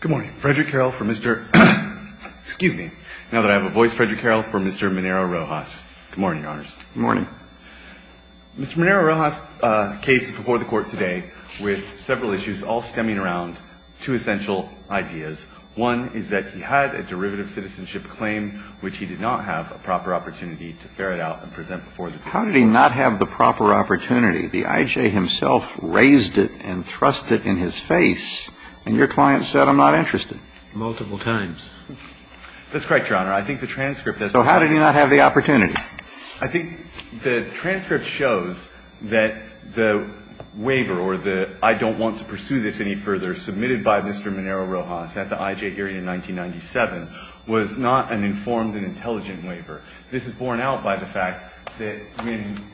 Good morning. Frederick Carroll for Mr. Excuse me. Now that I have a voice, Frederick Carroll for Mr. Minero-Rojas. Good morning, Your Honors. Good morning. Mr. Minero-Rojas case is before the court today with several issues all stemming around two essential ideas. One is that he had a derivative citizenship claim, which he did not have a proper opportunity to ferret out and present before the court. How did he not have the proper opportunity? The I.J. himself raised it and thrust it in his face, and your client said, I'm not interested. Multiple times. That's correct, Your Honor. I think the transcript does. So how did he not have the opportunity? I think the transcript shows that the waiver or the I don't want to pursue this any further submitted by Mr. Minero-Rojas at the I.J. hearing in 1997 was not an informed and intelligent waiver. This is borne out by the fact that when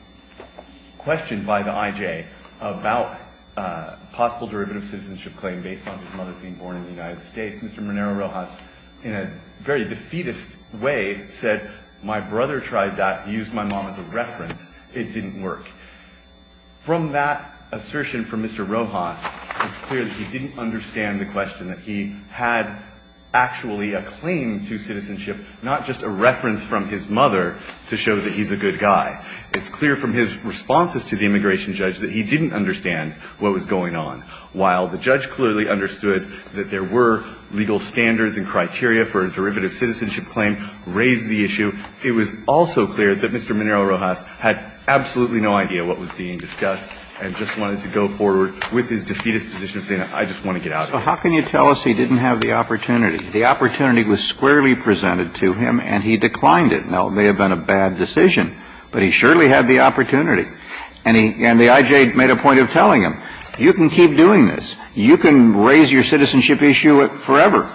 questioned by the I.J. about a possible derivative citizenship claim based on his mother being born in the United States, Mr. Minero-Rojas, in a very defeatist way, said, my brother tried that, used my mom as a reference. It didn't work. From that assertion from Mr. Rojas, it's clear that he didn't understand the question, that he had actually a claim to citizenship, not just a reference from his mother to show that he's a good guy. It's clear from his responses to the immigration judge that he didn't understand what was going on. While the judge clearly understood that there were legal standards and criteria for a derivative citizenship claim, raised the issue, it was also clear that Mr. Minero-Rojas had absolutely no idea what was being discussed and just wanted to go forward with his defeatist position, saying, I just want to get out of here. So how can you tell us he didn't have the opportunity? The opportunity was squarely presented to him and he declined it. Now, it may have been a bad decision, but he surely had the opportunity. And he, and the I.J. made a point of telling him, you can keep doing this, you can raise your citizenship issue forever,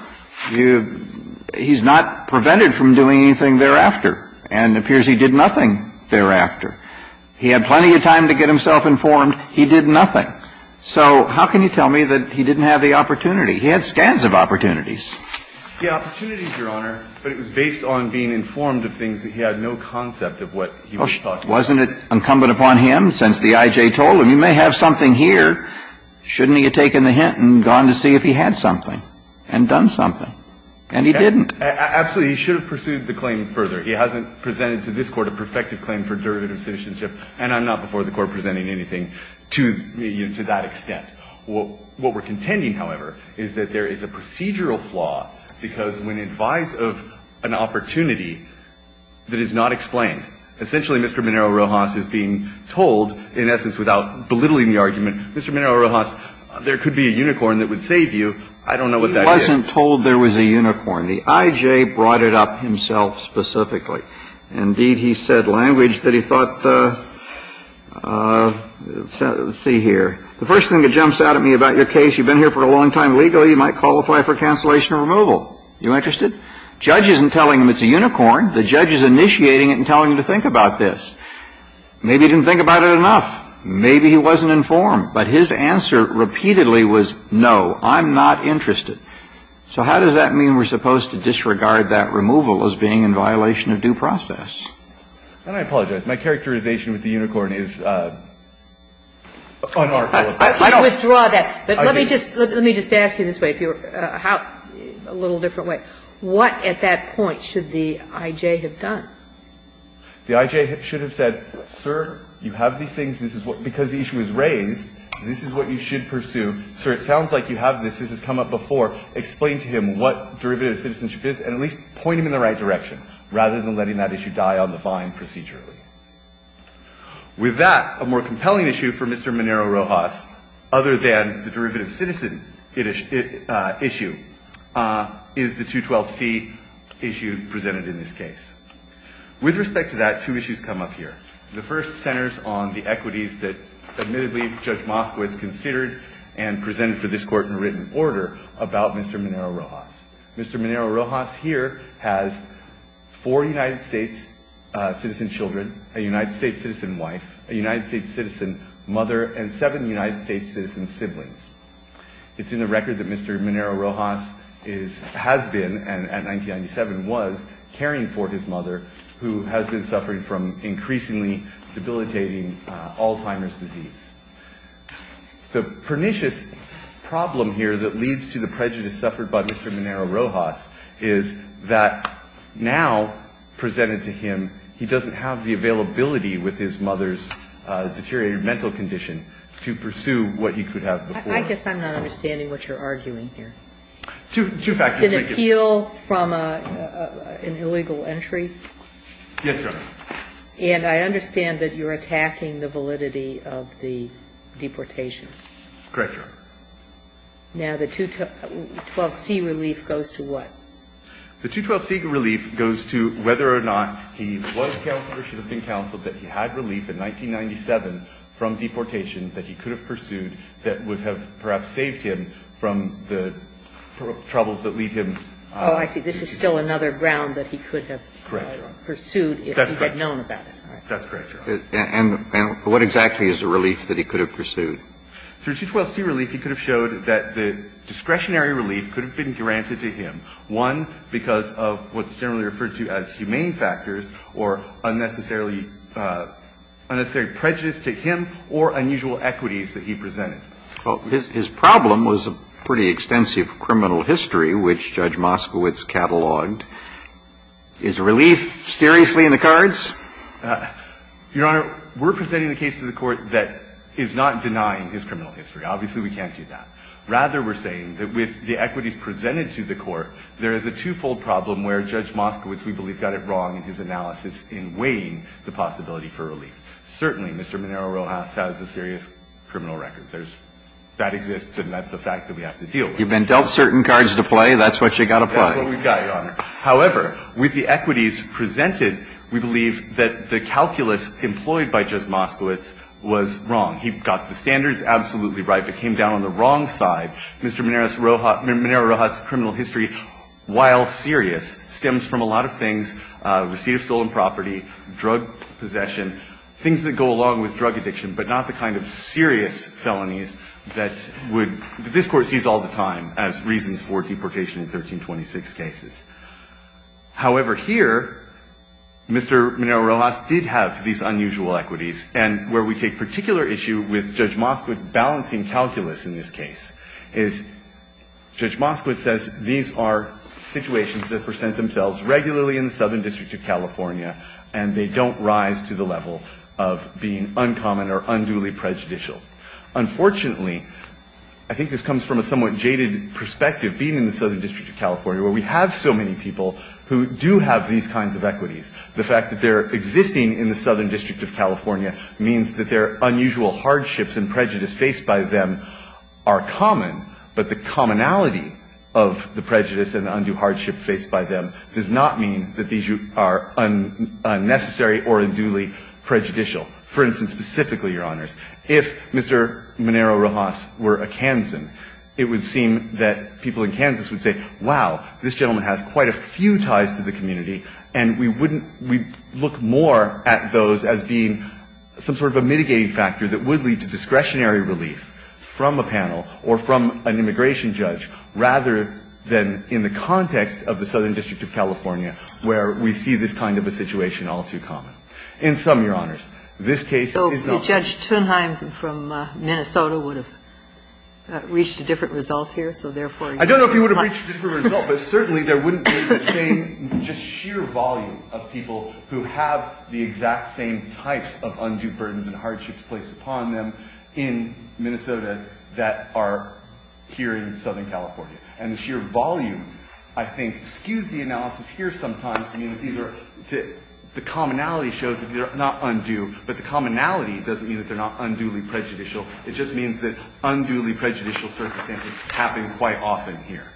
you, he's not prevented from doing anything thereafter, and it appears he did nothing thereafter. He had plenty of time to get himself informed, he did nothing. So how can you tell me that he didn't have the opportunity? He had scans of opportunities. Yeah, opportunities, Your Honor, but it was based on being informed of things that he had no concept of what he was talking about. Wasn't it incumbent upon him, since the I.J. told him, you may have something here, shouldn't he have taken the hint and gone to see if he had something, and done something, and he didn't? Absolutely, he should have pursued the claim further. He hasn't presented to this Court a perfected claim for derivative citizenship, and I'm not before the Court presenting anything to, you know, to that extent. What we're contending, however, is that there is a procedural flaw, because when advised of an opportunity that is not explained, essentially, Mr. Minero-Rojas is being told, in essence, without belittling the argument, Mr. Minero-Rojas, there could be a unicorn that would save you. I don't know what that is. He wasn't told there was a unicorn. The I.J. brought it up himself specifically. Indeed, he said language that he thought the – let's see here. The first thing that jumps out at me about your case, you've been here for a long time legally, you might qualify for cancellation or removal. You interested? The judge isn't telling him it's a unicorn. The judge is initiating it and telling him to think about this. Maybe he didn't think about it enough. Maybe he wasn't informed. But his answer repeatedly was, no, I'm not interested. So how does that mean we're supposed to disregard that removal as being in violation of due process? And I apologize. My characterization with the unicorn is unarticulable. I withdraw that. But let me just – let me just ask you this way, if you're – how – a little different way. What at that point should the I.J. have done? The I.J. should have said, sir, you have these things. This is what – because the issue is raised, this is what you should pursue. Sir, it sounds like you have this. This has come up before. Explain to him what derivative citizenship is and at least point him in the right direction rather than letting that issue die on the vine procedurally. With that, a more compelling issue for Mr. Monero-Rojas, other than the derivative citizen issue, is the 212C issue presented in this case. With respect to that, two issues come up here. The first centers on the equities that, admittedly, Judge Moskowitz considered and presented for this court in a written order about Mr. Monero-Rojas. Mr. Monero-Rojas here has four United States citizen children, a United States citizen wife, a United States citizen mother, and seven United States citizen siblings. It's in the record that Mr. Monero-Rojas is – has been and, in 1997, was caring for his mother, who has been suffering from increasingly debilitating Alzheimer's disease. The pernicious problem here that leads to the prejudice suffered by Mr. Monero-Rojas is that now presented to him, he doesn't have the availability with his mother's deteriorated mental condition to pursue what he could have before. And I guess I'm not understanding what you're arguing here. Monero-Rojas, Jr. Two – two factors, thank you. An appeal from an illegal entry? Yes, Your Honor. And I understand that you're attacking the validity of the deportation. Correct, Your Honor. Now, the 212C relief goes to what? The 212C relief goes to whether or not he was counseled or should have been counseled that he had relief in 1997 from deportation that he could have pursued that would have perhaps saved him from the troubles that leave him. Oh, I see. This is still another ground that he could have pursued if he had known about it. That's correct, Your Honor. And what exactly is the relief that he could have pursued? Through 212C relief, he could have showed that the discretionary relief could have been granted to him, one, because of what's generally referred to as humane factors or unnecessary prejudice to him or unusual equities that he presented. Well, his problem was a pretty extensive criminal history, which Judge Moskowitz catalogued. Is relief seriously in the cards? Your Honor, we're presenting the case to the Court that is not denying his criminal history. Obviously, we can't do that. Rather, we're saying that with the equities presented to the Court, there is a twofold problem where Judge Moskowitz, we believe, got it wrong in his analysis in weighing the possibility for relief. Certainly, Mr. Monero-Rojas has a serious criminal record. There's – that exists, and that's a fact that we have to deal with. You've been dealt certain cards to play. That's what you've got to play. That's what we've got, Your Honor. However, with the equities presented, we believe that the calculus employed by Judge Moskowitz was wrong. He got the standards absolutely right. It came down on the wrong side. Mr. Monero-Rojas' criminal history, while serious, stems from a lot of things, receipt of stolen property, drug possession, things that go along with drug addiction, but not the kind of serious felonies that would – that this Court sees all the time as reasons for deprecation in 1326 cases. However, here, Mr. Monero-Rojas did have these unusual equities, and where we take particular issue with Judge Moskowitz balancing calculus in this case is Judge Moskowitz says these are situations that present themselves regularly in the Southern District of California, and they don't rise to the level of being uncommon or unduly prejudicial. Unfortunately, I think this comes from a somewhat jaded perspective, being in the Southern District of California, where we have so many people The fact that they're existing in the Southern District of California means that their unusual hardships and prejudice faced by them are common, but the commonality of the prejudice and the undue hardship faced by them does not mean that these are unnecessary or unduly prejudicial. For instance, specifically, Your Honors, if Mr. Monero-Rojas were a Kansan, it would seem that people in Kansas would say, wow, this gentleman has quite a few ties to the community, and we wouldn't we look more at those as being some sort of a mitigating factor that would lead to discretionary relief from a panel or from an immigration judge, rather than in the context of the Southern District of California where we see this kind of a situation all too common. In some, Your Honors, this case is not. So Judge Thunheim from Minnesota would have reached a different result here, so therefore, I don't know if he would have reached a different result, but certainly there wouldn't be the same just sheer volume of people who have the exact same types of undue burdens and hardships placed upon them in Minnesota that are here in Southern California. And the sheer volume, I think, skews the analysis here sometimes. I mean, the commonality shows that they're not undue, but the commonality doesn't mean that they're not unduly prejudicial. It just means that unduly prejudicial circumstances happen quite often here.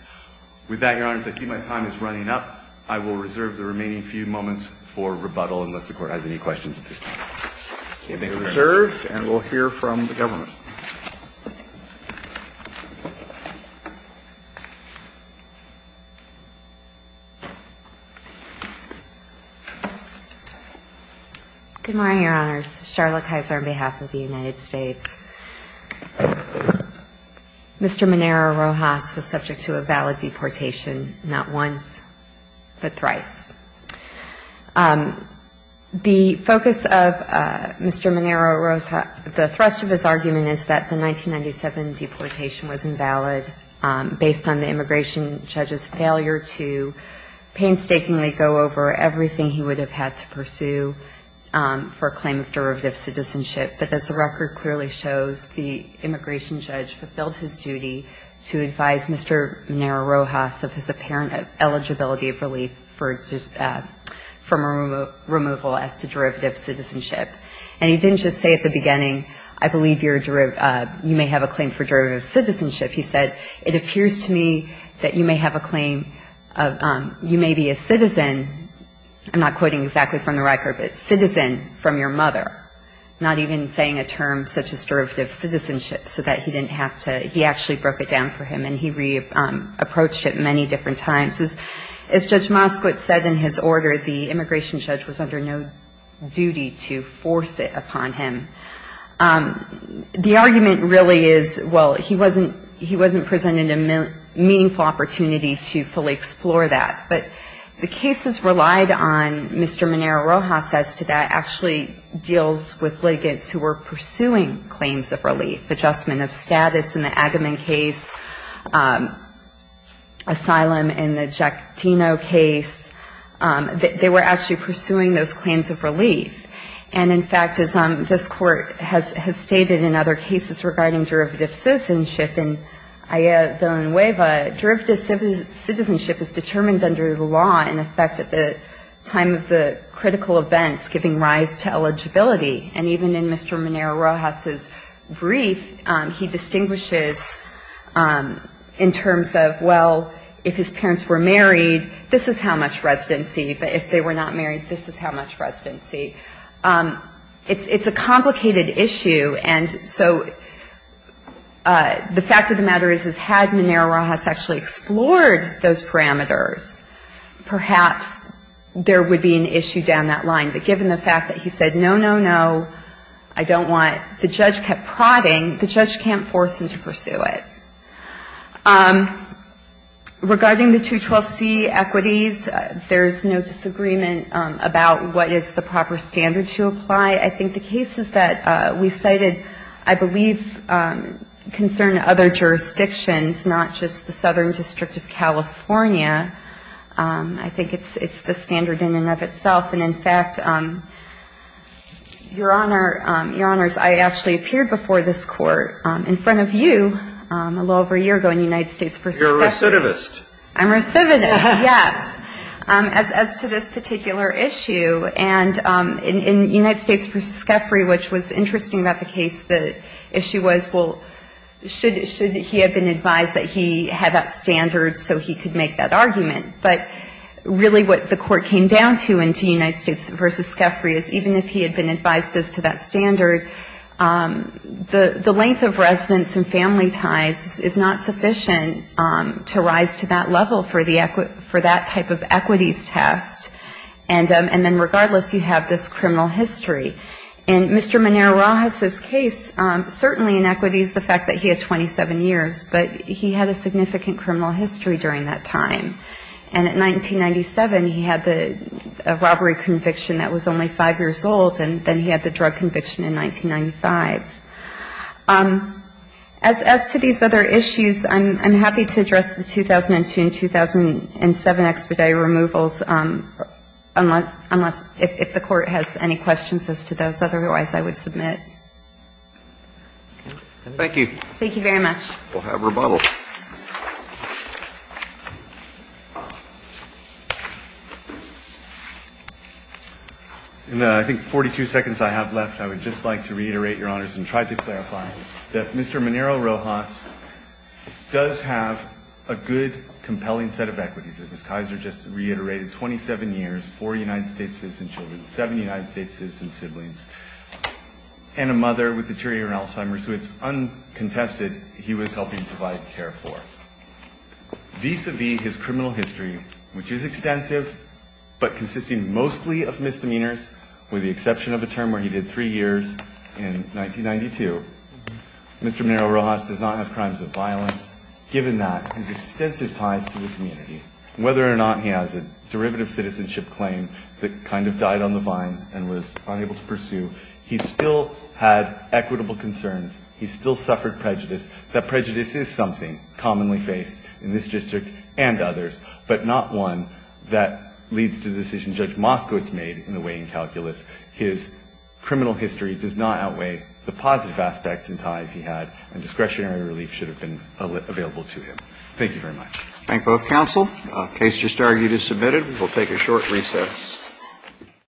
With that, Your Honors, I see my time is running up. I will reserve the remaining few moments for rebuttal, unless the Court has any questions at this time. Thank you very much. We'll reserve, and we'll hear from the government. Good morning, Your Honors. Charlotte Kaiser on behalf of the United States. Mr. Monero-Rojas was subject to a valid deportation, not once, but thrice. The focus of Mr. Monero-Rojas, the thrust of his argument is that the 1997 deportation was invalid based on the immigration judge's failure to painstakingly go over everything he would have had to pursue for a claim of derivative citizenship. But as the record clearly shows, the immigration judge fulfilled his duty to advise Mr. Monero-Rojas of his apparent eligibility of relief from removal as to derivative citizenship. And he didn't just say at the beginning, I believe you may have a claim for derivative citizenship. He said, it appears to me that you may have a claim, you may be a citizen, I'm not quoting exactly from the record, but citizen from your mother. Not even saying a term such as derivative citizenship, so that he didn't have to, he actually broke it down for him and he re-approached it many different times. As Judge Moskowitz said in his order, the immigration judge was under no duty to force it upon him. The argument really is, well, he wasn't presented a meaningful opportunity to fully explore that. But the cases relied on, Mr. Monero-Rojas says to that, actually deals with litigants who were pursuing claims of relief. Adjustment of status in the Agamemn case, asylum in the Jactino case. They were actually pursuing those claims of relief. And in fact, as this court has stated in other cases regarding derivative citizenship, in Aya Villanueva, derivative citizenship is determined under the law, in effect, at the time of the critical events, giving rise to eligibility. And even in Mr. Monero-Rojas' brief, he distinguishes in terms of, well, if his parents were married, this is how much residency. But if they were not married, this is how much residency. It's a complicated issue. And so the fact of the matter is, is had Monero-Rojas actually explored those parameters, perhaps there would be an issue down that line. But given the fact that he said, no, no, no, I don't want, the judge kept prodding, the judge can't force him to pursue it. Regarding the 212C equities, there's no disagreement about what is the proper standard to apply. I think the cases that we cited, I believe, concern other jurisdictions, not just the Southern District of California. I think it's the standard in and of itself. And in fact, Your Honor, Your Honors, I actually appeared before this court in front of you, a little over a year ago, in United States v. Skaffrey. You're a recidivist. I'm a recidivist, yes. As to this particular issue, and in United States v. Skaffrey, which was interesting about the case, the issue was, well, should he have been advised that he had that standard so he could make that argument? But really what the court came down to in United States v. Skaffrey is even if he had been advised as to that standard, the length of residence and family ties is not sufficient to rise to that level for that type of equities test. And then regardless, you have this criminal history. And Mr. Monero-Rojas' case, certainly in equities, the fact that he had 27 years, but he had a significant criminal history during that time. And in 1997, he had a robbery conviction that was only five years old, and then he had the drug conviction in 1995. As to these other issues, I'm happy to address the 2002 and 2007 expedite removals, unless if the court has any questions as to those. Otherwise, I would submit. Thank you. Thank you very much. We'll have rebuttal. In, I think, 42 seconds I have left, I would just like to reiterate, Your Honors, and try to clarify that Mr. Monero-Rojas does have a good, compelling set of equities. As Ms. Kaiser just reiterated, 27 years, four United States citizen children, seven United States citizen siblings, and a mother with deteriorating Alzheimer's who it's uncontested he was helping provide care for. Vis-a-vis his criminal history, which is extensive, but consisting mostly of misdemeanors, with the exception of a term where he did three years in 1992, Mr. Monero-Rojas does not have crimes of violence, given that his extensive ties to the community. Whether or not he has a derivative citizenship claim that kind of died on the vine and was unable to pursue, he still had equitable concerns. He still suffered prejudice. That prejudice is something commonly faced in this district and others, but not one that leads to the decision Judge Moskowitz made in the weighing calculus. His criminal history does not outweigh the positive aspects and ties he had, and discretionary relief should have been available to him. Thank you very much. Thank both counsel. Case just argued is submitted. We'll take a short recess.